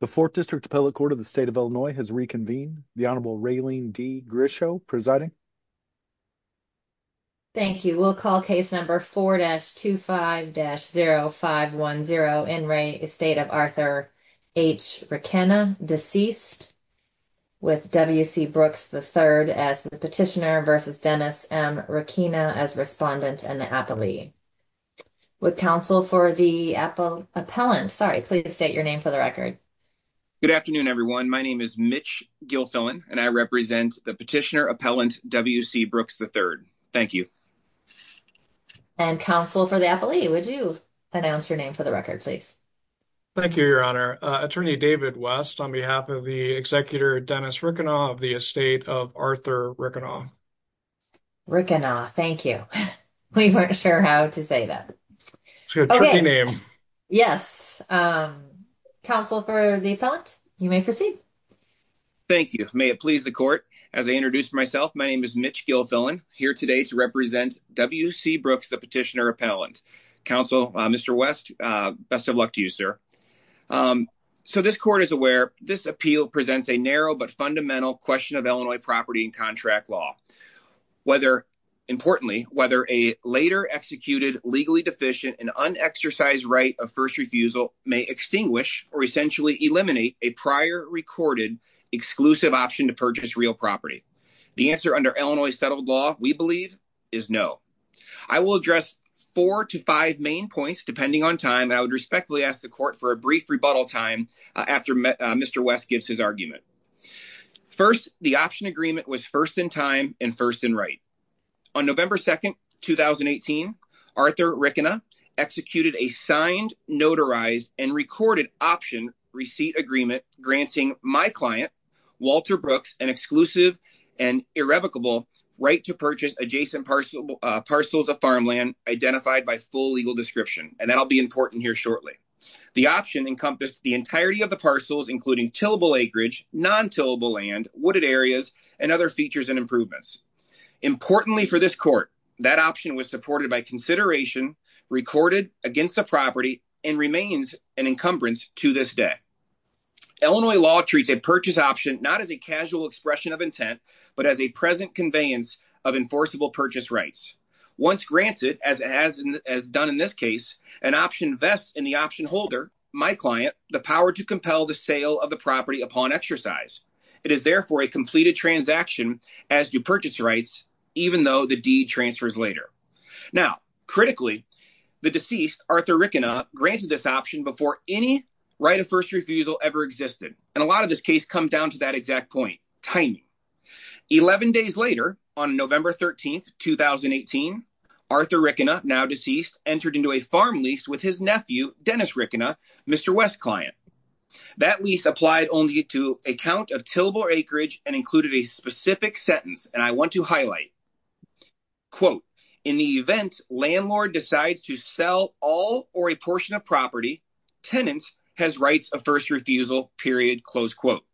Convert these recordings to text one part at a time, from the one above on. The 4th District Appellate Court of the State of Illinois has reconvened. The Honorable Raylene D. Grisho presiding. Thank you. We'll call case number 4-25-0510 in re. Estate of Arthur H. Riekena, deceased. With W.C. Brooks III as the petitioner versus Dennis M. Rekina as respondent and the appellee. With counsel for the appellant. Sorry, please state your name for the record. Good afternoon, everyone. My name is Mitch Gilfillan and I represent the petitioner appellant W.C. Brooks III. Thank you. And counsel for the appellee, would you announce your name for the record, please? Thank you, Your Honor. Attorney David West on behalf of the executor Dennis Riekena of the estate of Arthur Riekena. Riekena, thank you. We weren't sure how to say that. It's a tricky name. Yes. Counsel for the appellant, you may proceed. Thank you. May it please the court. As I introduced myself, my name is Mitch Gilfillan, here today to represent W.C. Brooks, the petitioner appellant. Counsel, Mr. West, best of luck to you, sir. So this court is aware this appeal presents a narrow but fundamental question of Illinois property and contract law, whether importantly, whether a later executed, legally deficient and unexercised right of first refusal may extinguish or essentially eliminate a prior recorded exclusive option to purchase real property. The answer under Illinois settled law, we believe is no. I will address four to five main points depending on time. I would respectfully ask the court for a brief rebuttal time after Mr. West gives his argument. First, the option agreement was first in time and first in right. On November 2nd, 2018, Arthur Riekena executed a signed, notarized and recorded option receipt agreement granting my client, Walter Brooks, an exclusive and irrevocable right to purchase adjacent parcels of farmland identified by full legal description, and that'll be important here shortly. The option encompassed the entirety of the parcels, including tillable acreage, non-tillable land, wooded areas and other features and improvements. Importantly for this court, that option was supported by consideration recorded against the property and remains an encumbrance to this day. Illinois law treats a purchase option not as a casual expression of intent, but as a present conveyance of enforceable rights. Once granted, as done in this case, an option vests in the option holder, my client, the power to compel the sale of the property upon exercise. It is therefore a completed transaction as to purchase rights, even though the deed transfers later. Now, critically, the deceased, Arthur Riekena, granted this option before any right of first refusal ever existed, and a lot of this case comes down to that exact point, timing. 11 days later, on November 13, 2018, Arthur Riekena, now deceased, entered into a farm lease with his nephew, Dennis Riekena, Mr. West's client. That lease applied only to a count of tillable acreage and included a specific sentence, and I want to highlight. Quote, in the event landlord decides to sell all or a portion of tenants has rights of first refusal, period, close quote.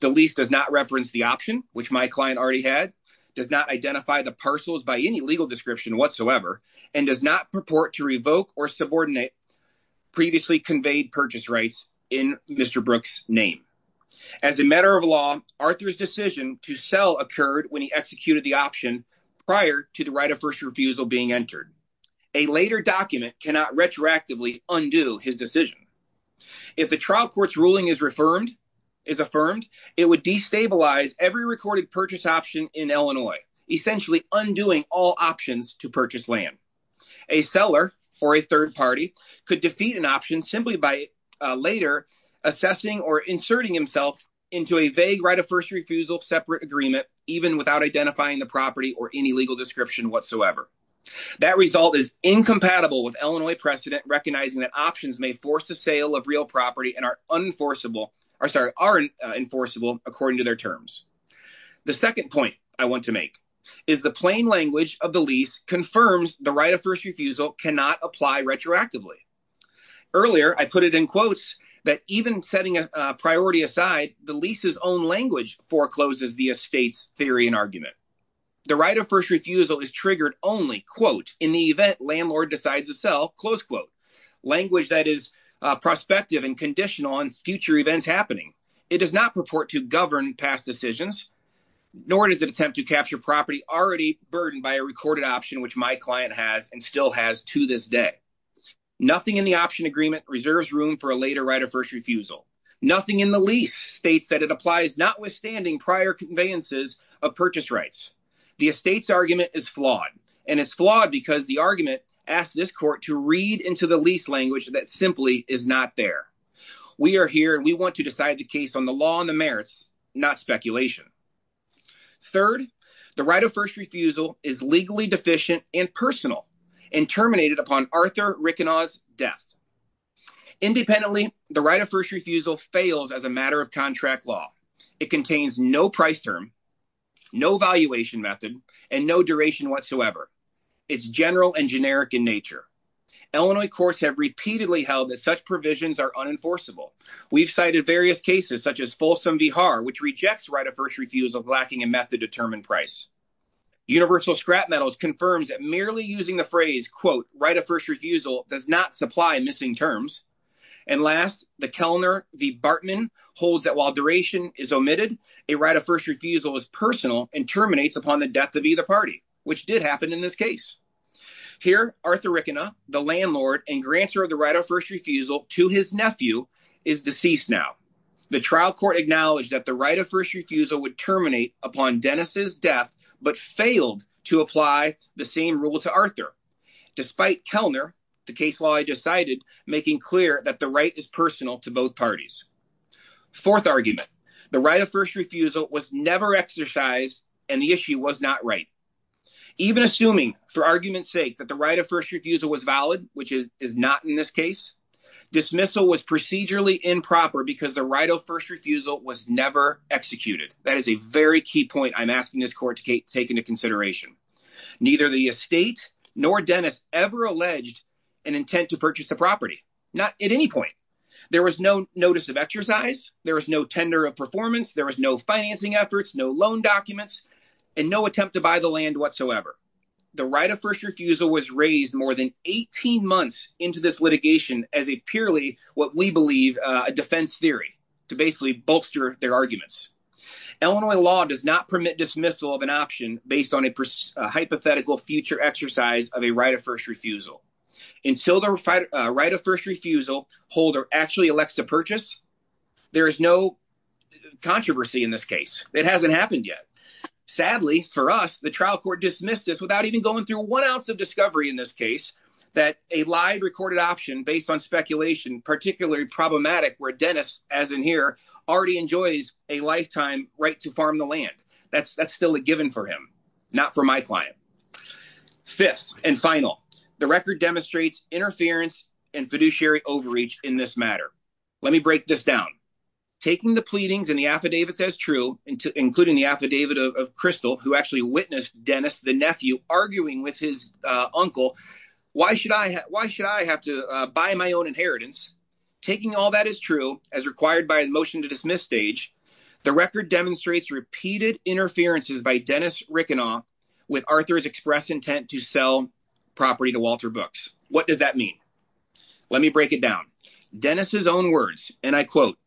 The lease does not reference the option, which my client already had, does not identify the parcels by any legal description whatsoever, and does not purport to revoke or subordinate previously conveyed purchase rights in Mr. Brook's name. As a matter of law, Arthur's decision to sell occurred when he executed the option prior to the right of first refusal being entered. A later document cannot retroactively undo his decision. If the trial court's ruling is affirmed, it would destabilize every recorded purchase option in Illinois, essentially undoing all options to purchase land. A seller for a third party could defeat an option simply by later assessing or inserting himself into a vague right separate agreement, even without identifying the property or any legal description whatsoever. That result is incompatible with Illinois precedent, recognizing that options may force the sale of real property and are enforceable according to their terms. The second point I want to make is the plain language of the lease confirms the right of first refusal cannot apply retroactively. Earlier, I put it in quotes that even setting a priority aside, the lease's own language forecloses the estate's theory and argument. The right of first refusal is triggered only, quote, in the event landlord decides to sell, close quote. Language that is prospective and conditional on future events happening. It does not purport to govern past decisions, nor does it attempt to capture property already burdened by a recorded option, which my client has and still has to this day. Nothing in the option agreement reserves room for a later right of first refusal. Nothing in the lease states that it applies notwithstanding prior conveyances of purchase rights. The estate's argument is flawed, and it's flawed because the argument asked this court to read into the lease language that simply is not there. We are here and we want to decide the case on the law and the merits, not speculation. Third, the right of first refusal is legally deficient and personal and terminated upon Arthur Rickenau's death. Independently, the right of first refusal fails as a matter of contract law. It contains no price term, no valuation method, and no duration whatsoever. It's general and generic in nature. Illinois courts have repeatedly held that such provisions are unenforceable. We've cited various cases such as Folsom v. Harr, which rejects right of first refusal lacking a method-determined price. Universal Scrap Metals confirms that merely using the phrase, quote, right of first refusal does not supply missing terms. And last, the Kellner v. Bartman holds that while duration is omitted, a right of first refusal is personal and terminates upon the death of either party, which did happen in this case. Here, Arthur Rickenau, the landlord and grantor of the right of first refusal to his nephew, is deceased now. The trial court acknowledged that the right of first refusal would terminate upon Dennis's death, but failed to apply the same rule to Arthur. Despite Kellner, the case law I cited making clear that the right is personal to both parties. Fourth argument, the right of first refusal was never exercised and the issue was not right. Even assuming, for argument's sake, that the right of first refusal was valid, which is not in this case, dismissal was procedurally improper because the right of first refusal was never executed. That is a very key point I'm asking this court to take into consideration. Neither the estate nor Dennis ever alleged an intent to purchase the property, not at any point. There was no notice of exercise, there was no tender of performance, there was no financing efforts, no loan documents, and no attempt to buy the land whatsoever. The right of first refusal was raised more than 18 months into this litigation as a purely, what we believe, a defense theory to basically bolster their arguments. Illinois law does not permit dismissal of an option based on a hypothetical future exercise of a right of first refusal. Until the right of first refusal holder actually elects to purchase, there is no controversy in this case. It hasn't happened yet. Sadly for us, the trial court dismissed this without even going through one ounce of discovery in this case that a live recorded option based on speculation, particularly problematic, where Dennis, as in here, already enjoys a lifetime right to farm the land. That's still a given for him, not for my client. Fifth and final, the record demonstrates interference and fiduciary overreach in this matter. Let me break this down. Taking the pleadings and the affidavits as true, including the affidavit of Crystal, who actually witnessed Dennis, the nephew, arguing with his uncle, why should I have to buy my own inheritance? Taking all that is true, as required by the motion to dismiss stage, the record demonstrates repeated interferences by Dennis Rickenau with Arthur's express intent to sell property to Walter Books. What does that mean? Let me break it down. Dennis's own words, and I quote,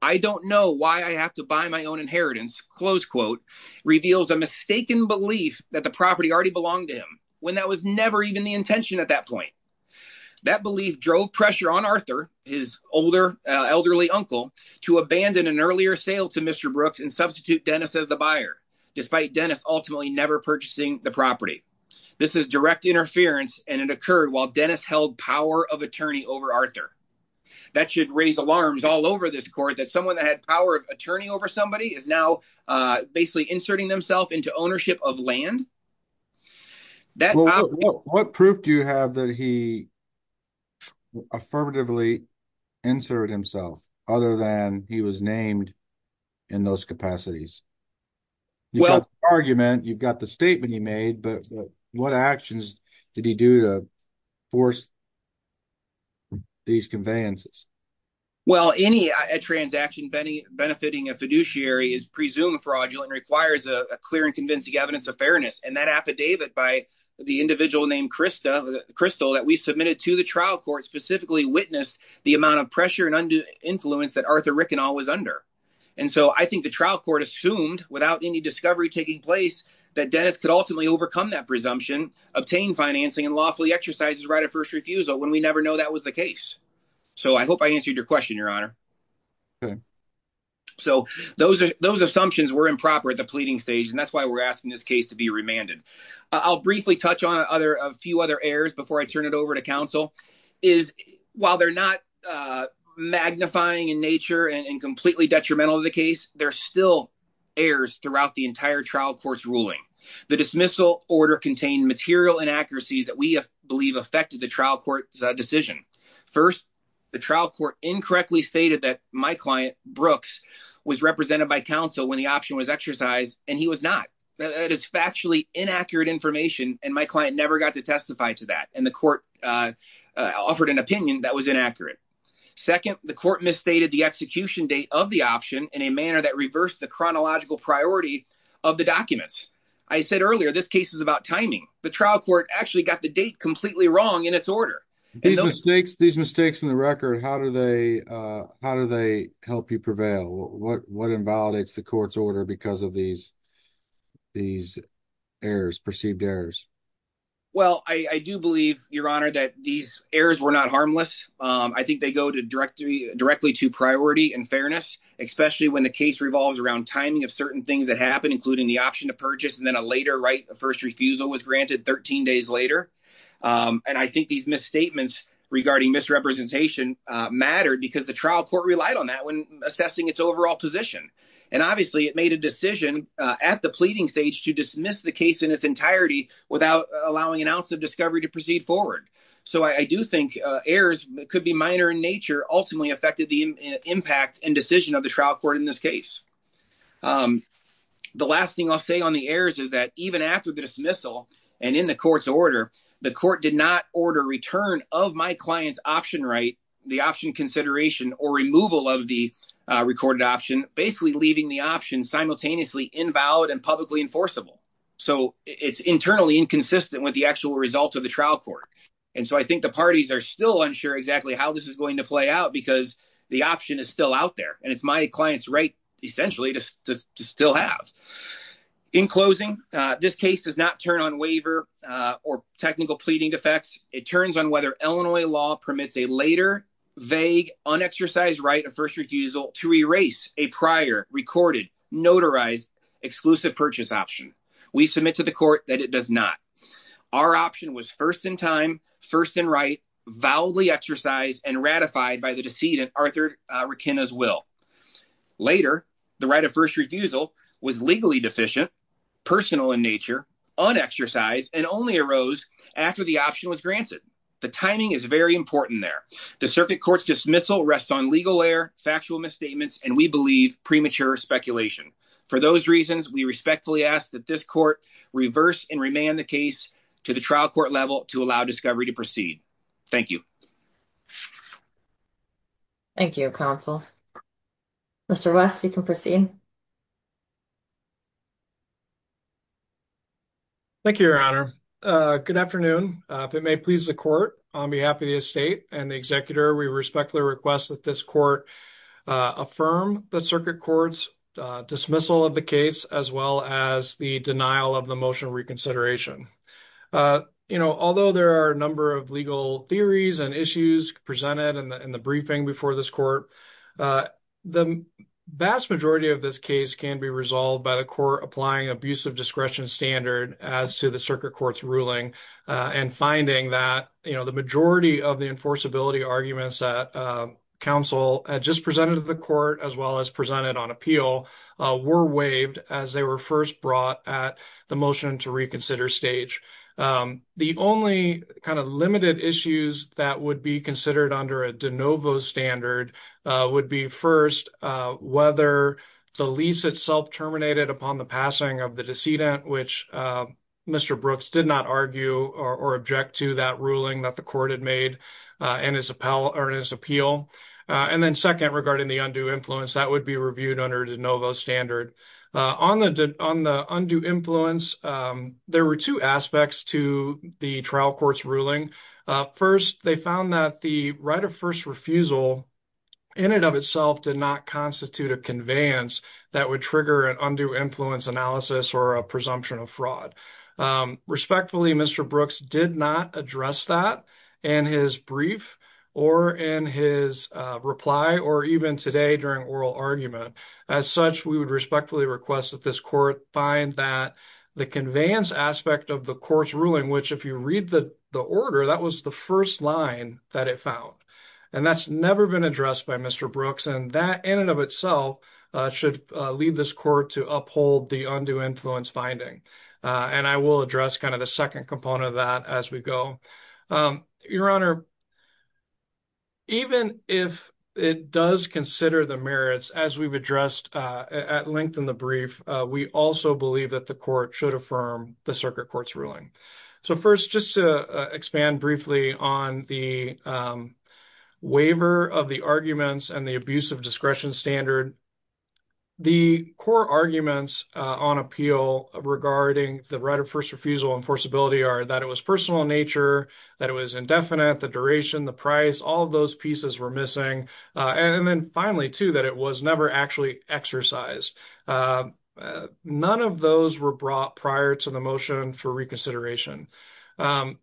I don't know why I have to buy my own inheritance, close quote, reveals a mistaken belief that the property already belonged to him when that was never even the intention at that point. That belief drove pressure on Arthur, his older elderly uncle, to abandon an earlier sale to Mr. Brooks and substitute Dennis as the buyer, despite Dennis ultimately never purchasing the property. This is direct interference and it occurred while Dennis held power of attorney over Arthur. That should raise alarms all over this court that someone that had power of attorney over somebody is now basically inserting themselves into ownership of land. What proof do you have that he affirmatively inserted himself other than he was named in those capacities? You've got the argument, you've got the statement he made, but what actions did he do to force these conveyances? Well, any transaction benefiting a fiduciary is presumed fraudulent and requires a clear and convincing evidence of fairness. And that affidavit by the individual named Crystal that we submitted to the trial court specifically witnessed the amount of pressure and influence that Arthur Rickenau was under. And so I think the trial court assumed without any discovery taking place that Dennis could ultimately overcome that presumption, obtain financing and lawfully exercise his right of first refusal when we never know that was the case. So I hope I answered your question, Your Honor. So those assumptions were improper at the pleading stage, and that's why we're asking this case to be remanded. I'll briefly touch on a few other errors before I turn it over to counsel. While they're not magnifying in nature and completely detrimental to the case, they're still errors throughout the entire trial court's ruling. The dismissal order contained material inaccuracies that we believe affected the trial court's decision. First, the trial court incorrectly stated that my client Brooks was represented by counsel when the option was exercised, and he was not. That is factually inaccurate information, and my client never got to testify to that, and the court offered an opinion that was inaccurate. Second, the court misstated the execution date of the option in a manner that reversed the chronological priority of the documents. I said earlier this case is about timing. The trial court actually got the date completely wrong in its order. These mistakes in the record, how do they help you prevail? What invalidates the court's order because of these perceived errors? Well, I do believe, Your Honor, that these errors were not harmless. I think they go directly to priority and fairness, especially when the case revolves around timing of certain things that happen, including the option to purchase, and then a later first refusal was granted 13 days later. I think these misstatements regarding misrepresentation mattered because the trial court relied on that when assessing its overall position. Obviously, it made a decision at the pleading stage to dismiss the case in its entirety without allowing an ounce of discovery to proceed forward. I do think errors that could be minor in nature ultimately affected the impact and decision of the trial court in this case. The last thing I'll say on the errors is that even after the dismissal and in the court's order, the court did not order return of my client's option right, the option consideration, or removal of the recorded option, basically leaving the option simultaneously invalid and publicly enforceable. It's internally inconsistent with the actual results of the trial court, and so I think the parties are still unsure exactly how this is going to play out because the option is still out there, and it's my client's right, essentially, to still have. In closing, this case does not turn on waiver or technical pleading defects. It turns on whether Illinois law permits a later, vague, unexercised right of first refusal to erase a prior recorded, notarized, exclusive purchase option. We submit to the court that it does not. Our option was first in time, first in right, validly exercised, and ratified by the decedent, Arthur Rakina's will. Later, the right of first refusal was legally deficient, personal in nature, unexercised, and only arose after the option was granted. The timing is very important there. The circuit court's dismissal rests on legal error, factual misstatements, and we believe premature speculation. For those reasons, we respectfully ask that this court reverse and remand the case to the trial court level to allow discovery to proceed. Thank you. Thank you, counsel. Mr. West, you can proceed. Thank you, Your Honor. Good afternoon. If it may please the court, on behalf of the estate and the executor, we respectfully request that this court affirm the circuit court's dismissal of the case as well as the denial of the motion of reconsideration. You know, although there are a number of legal theories and issues presented in the briefing before this court, the vast majority of this case can be resolved by the court applying abusive discretion standard as to the circuit court's ruling and finding that, you know, the majority of the enforceability arguments that counsel just presented to the court, as well as presented on appeal, were waived as they were first brought at the motion to reconsider stage. The only kind of limited issues that would be considered under a de novo standard would be first whether the lease itself terminated upon the passing of the decedent, which Mr. Brooks did not argue or object to that ruling that the court had made in his appeal. And then second, regarding the undue influence, that would be reviewed under de novo standard. On the undue influence, there were two aspects to the trial court's ruling. First, they found that the right of first refusal in and of itself did not constitute a conveyance that would trigger an undue influence analysis or a presumption of fraud. Respectfully, Mr. Brooks did not address that in his brief or in his reply or even today during oral argument. As such, we would respectfully request that this court find that the conveyance aspect of the court's ruling, which if you read the order, that was the first line that it found. And that's never been addressed by Mr. Brooks. And that in and of itself should lead this court to uphold the undue influence finding. And I will address kind of the second component of that as we go. Your Honor, even if it does consider the merits as we've addressed at length in the brief, we also believe that the court should affirm the circuit court's ruling. So first, just to expand briefly on the waiver of the arguments and the abuse of discretion standard. The core arguments on appeal regarding the right of first refusal enforceability are that it was personal in nature, that it was indefinite, the duration, the price, all of those pieces were missing. And then finally, too, that it was never actually exercised. None of those were brought prior to the motion for reconsideration.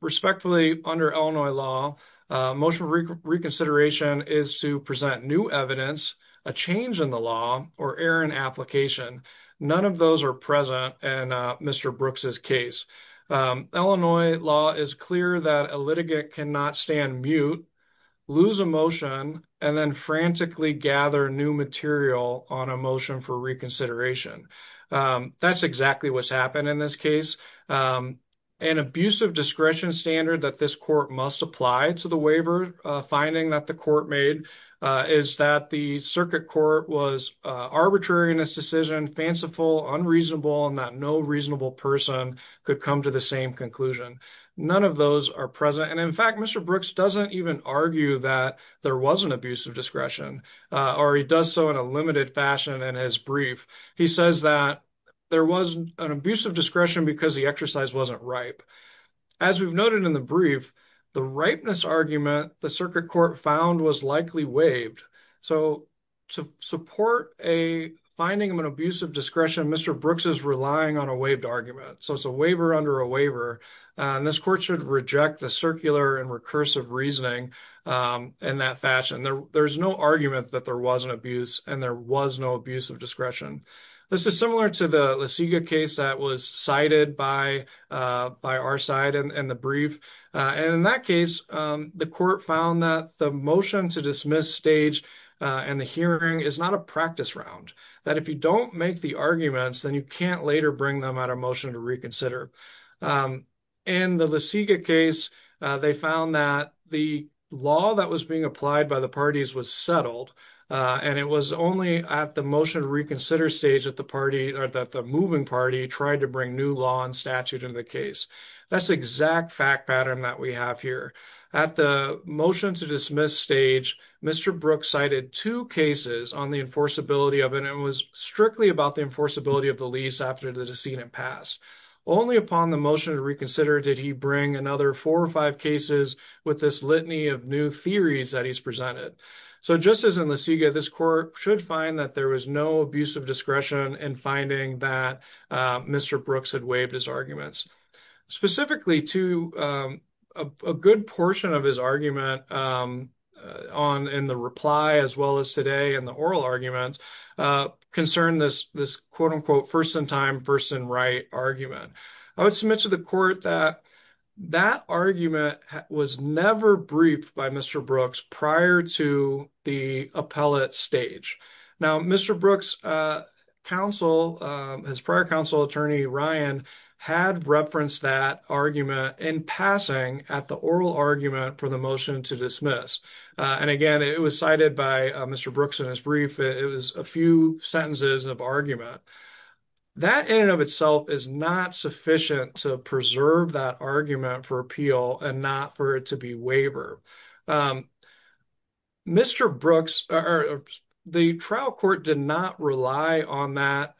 Respectfully, under Illinois law, motion of reconsideration is to present new evidence, a change in the law, or error in application. None of those are present in Mr. Brooks's case. Illinois law is clear that a litigant cannot stand mute, lose a motion, and then frantically gather new material on a motion for reconsideration. That's exactly what's happened in this case. An abuse of discretion standard that this court must apply to the waiver finding that the court made is that the circuit court was arbitrary in this decision, fanciful, unreasonable, and that no reasonable person could come to the same conclusion. None of those are present. And in fact, Mr. Brooks doesn't even argue that there was an abuse of discretion, or he does so in a limited fashion in his brief. He says that there was an abuse of discretion because the exercise wasn't ripe. As we've noted in the brief, the ripeness argument the circuit court found was likely waived. So to support a finding of an abuse of discretion, Mr. Brooks is relying on a waived argument. So it's a waiver under a waiver, and this court should reject the circular and recursive reasoning in that fashion. There's no argument that there was an abuse and there was no abuse of discretion. This is similar to the case that was cited by our side in the brief. And in that case, the court found that the motion to dismiss stage and the hearing is not a practice round. That if you don't make the arguments, then you can't later bring them at a motion to reconsider. In the Laseka case, they found that the law that was being applied by the parties was settled, and it was only at the motion to stage that the moving party tried to bring new law and statute in the case. That's the exact fact pattern that we have here. At the motion to dismiss stage, Mr. Brooks cited two cases on the enforceability of it, and it was strictly about the enforceability of the lease after the decedent passed. Only upon the motion to reconsider did he bring another four or five cases with this litany of new theories that he's presented. So just as in Laseka, this court should find that there was no abuse of discretion in finding that Mr. Brooks had waived his arguments. Specifically, too, a good portion of his argument in the reply as well as today in the oral argument concerned this, quote-unquote, first-in-time, first-in-right argument. I would submit to the court that Mr. Brooks' prior counsel attorney, Ryan, had referenced that argument in passing at the oral argument for the motion to dismiss. And again, it was cited by Mr. Brooks in his brief. It was a few sentences of argument. That in and of itself is not sufficient to preserve that argument for appeal and not for it to be waivered. Mr. Brooks, the trial court did not rely on that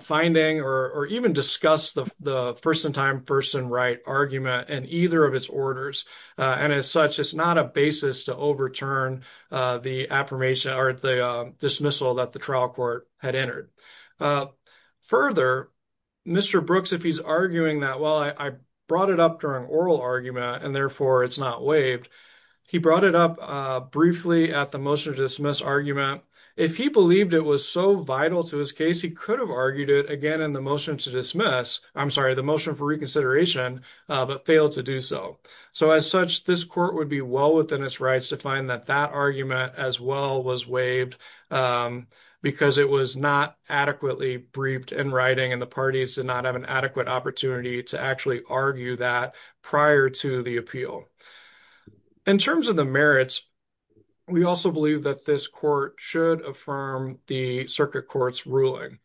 finding or even discuss the first-in-time, first-in-right argument in either of its orders. And as such, it's not a basis to overturn the affirmation or the dismissal that the trial court had entered. Further, Mr. Brooks, if he's arguing that, well, I brought it up during oral argument, and therefore it's not waived, he brought it up briefly at the motion to dismiss argument. If he believed it was so vital to his case, he could have argued it again in the motion to dismiss, I'm sorry, the motion for reconsideration, but failed to do so. So as such, this court would be well within its rights to find that that argument as well was waived because it was not adequately briefed in writing, and the parties did not have an adequate opportunity to actually argue that prior to the appeal. In terms of the merits, we also believe that this court should affirm the circuit court's ruling.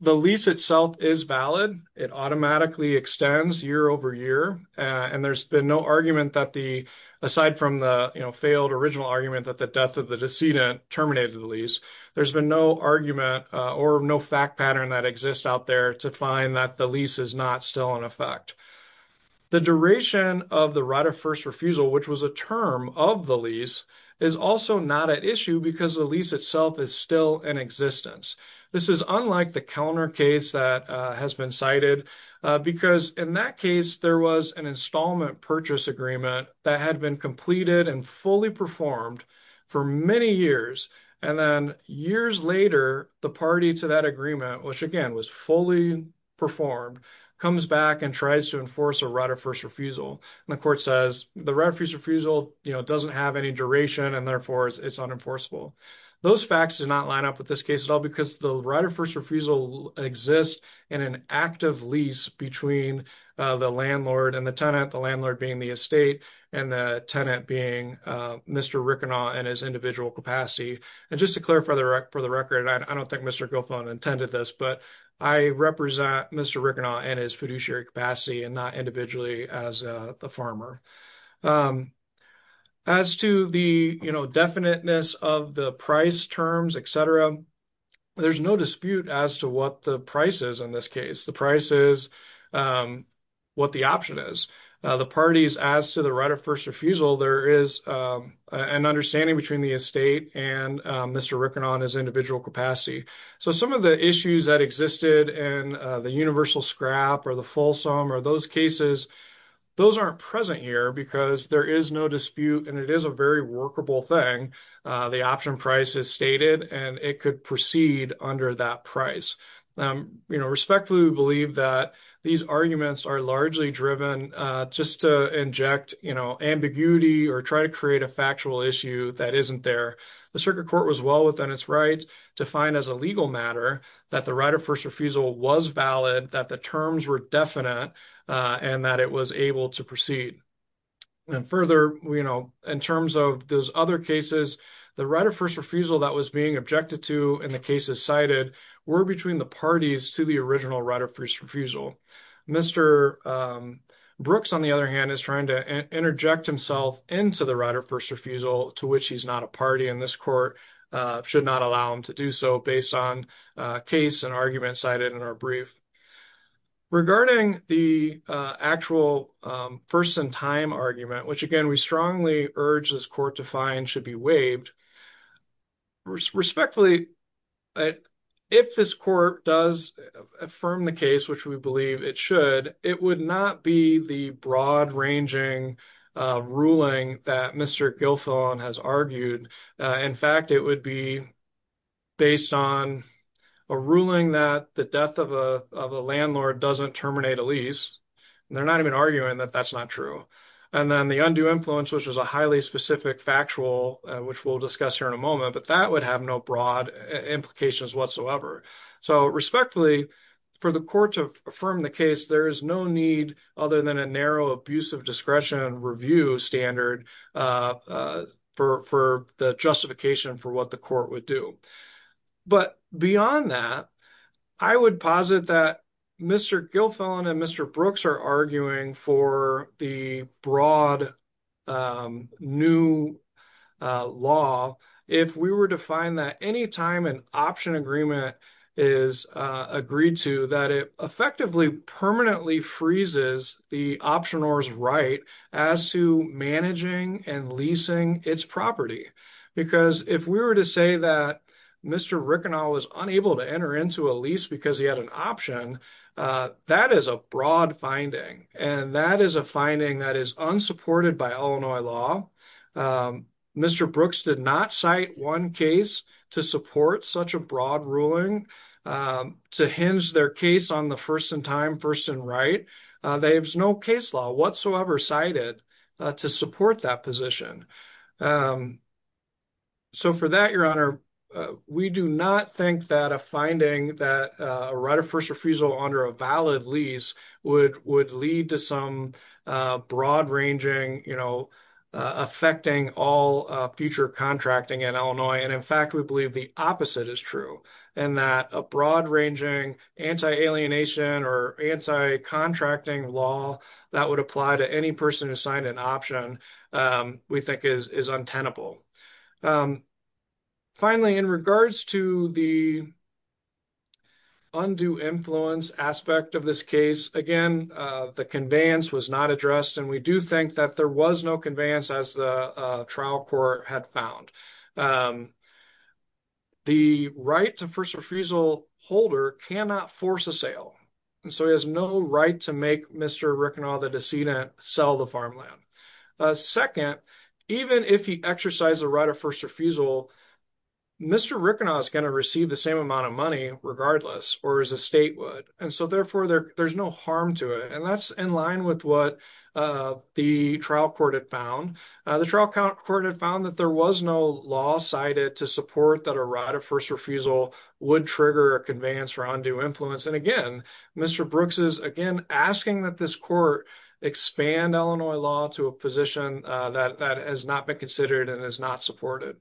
The lease itself is valid. It automatically extends year over year. And there's been no argument that the, aside from the failed original argument that the death of the decedent terminated the lease, there's been no argument or no fact pattern that exists out there to find that the lease is not still in effect. The duration of the right of first refusal, which was a term of the lease, is also not at issue because the lease itself is in existence. This is unlike the counter case that has been cited because in that case, there was an installment purchase agreement that had been completed and fully performed for many years. And then years later, the party to that agreement, which again was fully performed, comes back and tries to enforce a right of first refusal. And the court says the right of first refusal doesn't have any duration, and therefore it's unenforceable. Those facts do not line up with this case at all because the right of first refusal exists in an active lease between the landlord and the tenant, the landlord being the estate and the tenant being Mr. Rickenau in his individual capacity. And just to clarify for the record, I don't think Mr. Guilfoyle intended this, but I represent Mr. Rickenau in his fiduciary capacity and not as the farmer. As to the definiteness of the price terms, etc., there's no dispute as to what the price is in this case. The price is what the option is. The parties as to the right of first refusal, there is an understanding between the estate and Mr. Rickenau in his individual capacity. So some of the issues that existed in the universal scrap or the fulsome or those cases, those aren't present here because there is no dispute and it is a very workable thing. The option price is stated and it could proceed under that price. Respectfully, we believe that these arguments are largely driven just to inject ambiguity or try to create a factual issue that isn't there. The circuit court was well within its rights to find as a legal matter that the right of first refusal was valid, that the terms were definite, and that it was able to proceed. And further, in terms of those other cases, the right of first refusal that was being objected to in the cases cited were between the parties to the original right of first refusal. Mr. Brooks, on the other hand, is trying to interject himself into the right of first refusal to which he's not a party and this court should not allow him to do so based on case and arguments cited in our brief. Regarding the actual first-in-time argument, which again we strongly urge this court to find should be waived, respectfully, if this court does affirm the case, which we believe it should, it would not be the broad ranging ruling that Mr. Guilfoyle has argued. In fact, it would be based on a ruling that the death of a landlord doesn't terminate a lease. They're not even arguing that that's not true. And then the undue influence, which is a highly specific factual, which we'll discuss here in a moment, but that would have no broad implications whatsoever. So respectfully, for the court to affirm the case, there is no need other than a narrow abuse of discretion and review standard for the justification for what the court would do. But beyond that, I would posit that Mr. Guilfoyle and Mr. Brooks are arguing for the broad new law if we were to find that any time an option agreement is agreed to, that it effectively permanently freezes the optioner's right as to managing and leasing its property. Because if we were to say that Mr. Rickenauld was unable to enter into a lease because he had an option, that is a broad finding, and that is a finding that is unsupported by Illinois law. Mr. Brooks did not cite one case to support such a broad ruling to hinge their case on the first in time, first in right. There's no case law whatsoever cited to support that position. So for that, Your Honor, we do not think that a finding that a right of first refusal under a valid lease would lead to broad-ranging, you know, affecting all future contracting in Illinois. And in fact, we believe the opposite is true in that a broad-ranging anti-alienation or anti-contracting law that would apply to any person who signed an option we think is untenable. Finally, in regards to the undue influence aspect of this case, again, the conveyance was not addressed, and we do think that there was no conveyance as the trial court had found. The right to first refusal holder cannot force a sale, and so he has no right to make Mr. Rickenaugh the decedent sell the farmland. Second, even if he exercised a right of first refusal, Mr. Rickenaugh is going to receive the same amount of money regardless, or as a state would, and so therefore there's no harm to it. And that's in line with what the trial court had found. The trial court had found that there was no law cited to support that a right of first refusal would trigger a conveyance for undue influence. And again, Mr. Brooks is again asking that this court expand Illinois law to a position that has not been considered and is not supported.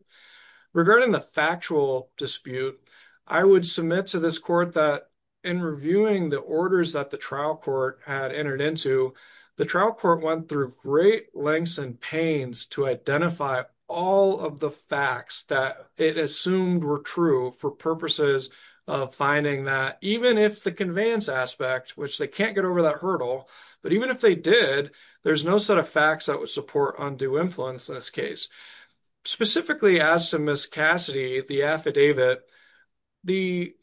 Regarding the factual dispute, I would submit to this court that in reviewing the orders that the trial court had entered into, the trial court went through great lengths and pains to identify all of the facts that it assumed were true for purposes of finding that even if the conveyance aspect, which they can't get over that hurdle, but even if they did, there's no set of facts that would support undue influence in this case. Specifically as to Ms. Cassidy, the affidavit, the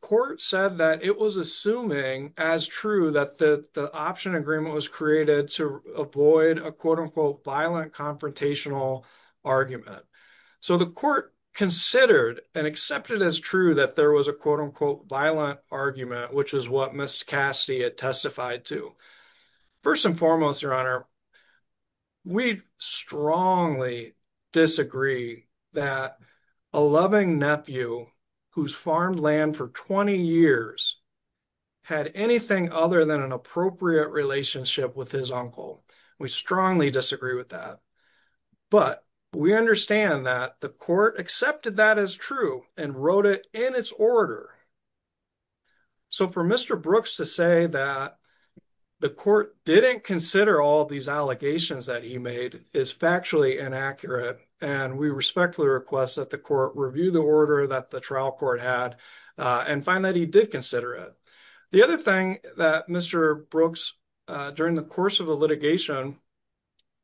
court said that it was assuming as true that the option agreement was created to avoid a violent confrontational argument. So the court considered and accepted as true that there was a violent argument, which is what Ms. Cassidy had testified to. First and foremost, Your Honor, we strongly disagree that a loving nephew who's farmed land for 20 years had anything other than an appropriate relationship with his uncle. We strongly disagree with that. But we understand that the court accepted that as true and wrote it in its order. So for Mr. Brooks to say that the court didn't consider all these allegations that he made is factually inaccurate. And we respectfully request that the court review the order that trial court had and find that he did consider it. The other thing that Mr. Brooks, during the course of the litigation,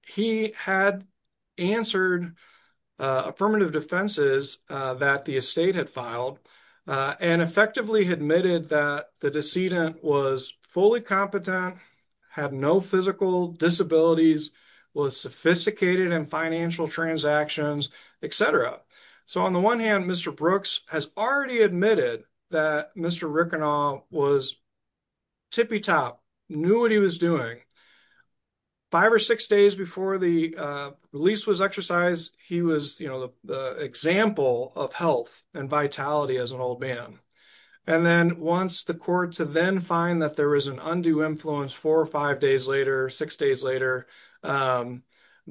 he had answered affirmative defenses that the estate had filed and effectively admitted that the decedent was fully competent, had no physical disabilities, was sophisticated in financial transactions, etc. So on the one hand, Mr. Brooks has already admitted that Mr. Rickenau was tippy top, knew what he was doing. Five or six days before the release was exercised, he was, you know, the example of health and vitality as an old man. And then once the court to then find that there was an undue influence four or five days later, six days later,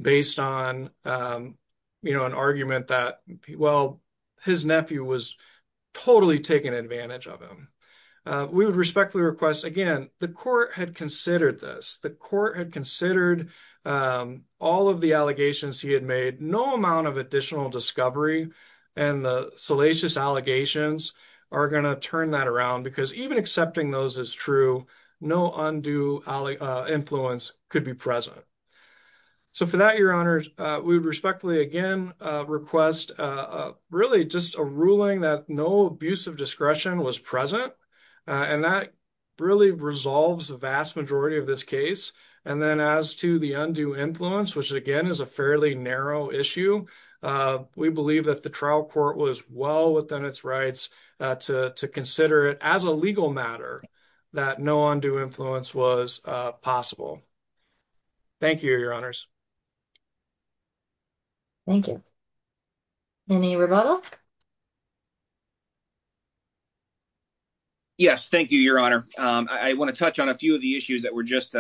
based on, you know, an argument that, well, his nephew was totally taken advantage of him. We would respectfully request, again, the court had considered this. The court had considered all of the allegations he had made. No amount of additional discovery and the salacious allegations are going to turn that around because even accepting those as true, no undue influence could be present. So for that, your honors, we would respectfully again request really just a ruling that no abuse of discretion was present. And that really resolves the vast majority of this case. And then as to the undue influence, which again is a fairly narrow issue, we believe that the trial court was well within its rights to consider it as a legal matter that no undue influence was possible. Thank you, your honors. Thank you. Any rebuttal? Yes, thank you, your honor. I want to touch on a few of the issues that were just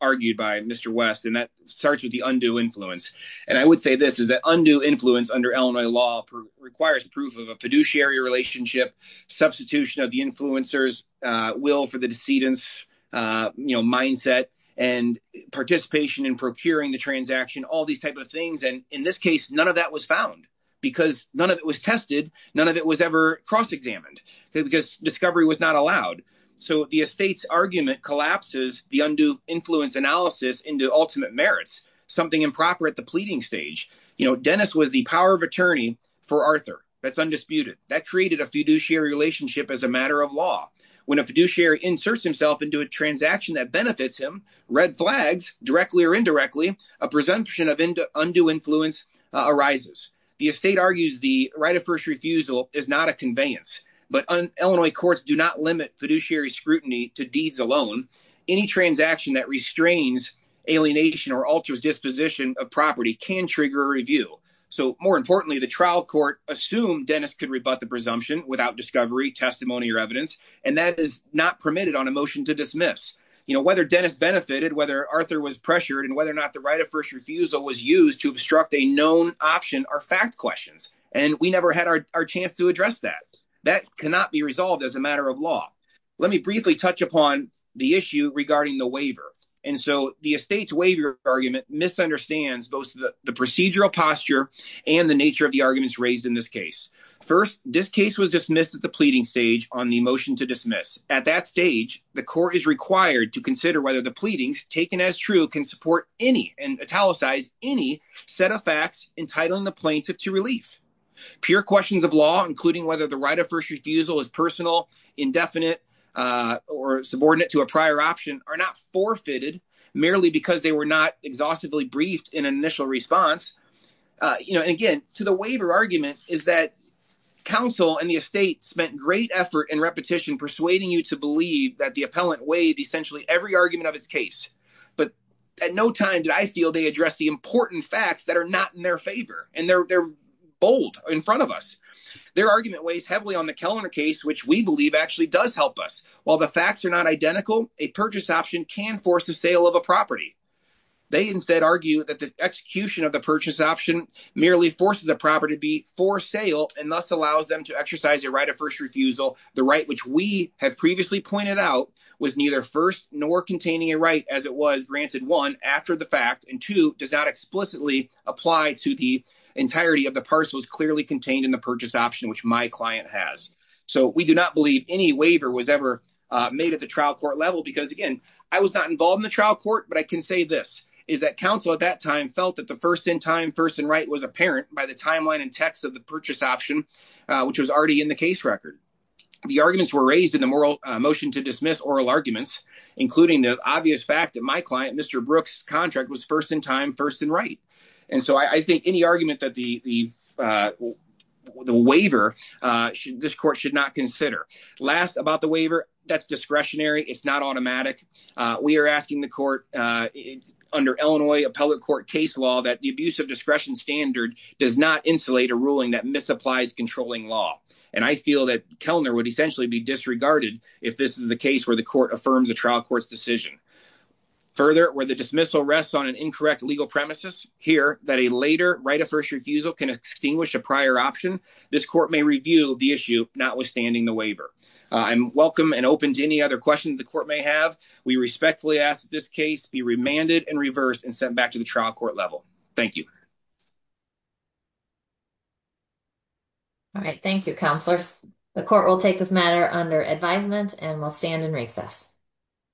argued by Mr. West and that starts with the undue influence. And I would say this is that undue influence under Illinois law requires proof of a fiduciary relationship, substitution of the influencer's will for the decedent's mindset and participation in procuring the transaction, all these types of things. And in this case, none of that was found because none of it was tested. None of it was ever cross-examined because discovery was not allowed. So the estate's argument collapses the undue influence analysis into ultimate merits, something improper at the power of attorney for Arthur. That's undisputed. That created a fiduciary relationship as a matter of law. When a fiduciary inserts himself into a transaction that benefits him, red flags, directly or indirectly, a presumption of undue influence arises. The estate argues the right of first refusal is not a conveyance, but Illinois courts do not limit fiduciary scrutiny to deeds alone. Any transaction that restrains alienation or alters disposition of property can trigger a so more importantly, the trial court assumed Dennis could rebut the presumption without discovery, testimony or evidence. And that is not permitted on a motion to dismiss. You know, whether Dennis benefited, whether Arthur was pressured and whether or not the right of first refusal was used to obstruct a known option are fact questions. And we never had our chance to address that. That cannot be resolved as a matter of law. Let me briefly touch upon the issue and the nature of the arguments raised in this case. First, this case was dismissed at the pleading stage on the motion to dismiss. At that stage, the court is required to consider whether the pleadings taken as true can support any and italicize any set of facts entitling the plaintiff to relief. Pure questions of law, including whether the right of first refusal is personal, indefinite or subordinate to a prior option are not forfeited merely because they were not exhaustively briefed in an initial response. And again, to the waiver argument is that counsel and the estate spent great effort and repetition persuading you to believe that the appellant weighed essentially every argument of his case. But at no time did I feel they address the important facts that are not in their favor. And they're bold in front of us. Their argument weighs heavily on the Kellner case, which we believe actually does help us. While the facts are not identical, a purchase option can force the sale of a property. They instead argue that the execution of the purchase option merely forces the property to be for sale and thus allows them to exercise a right of first refusal. The right which we have previously pointed out was neither first nor containing a right as it was granted one after the fact and two does not explicitly apply to the entirety of the parcels clearly contained in the purchase option, which my client has. So we do not believe any waiver was ever made at the trial court level because again, I was not involved in the trial court. But I can say this is that counsel at that time felt that the first in time first and right was apparent by the timeline and text of the purchase option, which was already in the case record. The arguments were raised in the moral motion to dismiss oral arguments, including the obvious fact that my client Mr. Brooks contract was first in time first and right. And so I think any argument that the waiver should this court should not consider last about the waiver. That's discretionary. It's not automatic. We are asking the court under Illinois appellate court case law that the abuse of discretion standard does not insulate a ruling that misapplies controlling law. And I feel that Kellner would essentially be disregarded if this is the case where the court affirms a trial court's decision. Further, where the dismissal rests on an incorrect legal premises here that a later right of first refusal can extinguish a prior option. This court may review the issue not withstanding the waiver. I'm welcome and open to any other questions the court may have. We respectfully ask this case be remanded and reversed and sent back to the trial court level. Thank you. All right. Thank you, counselors. The court will take this matter under advisement and will stand in recess.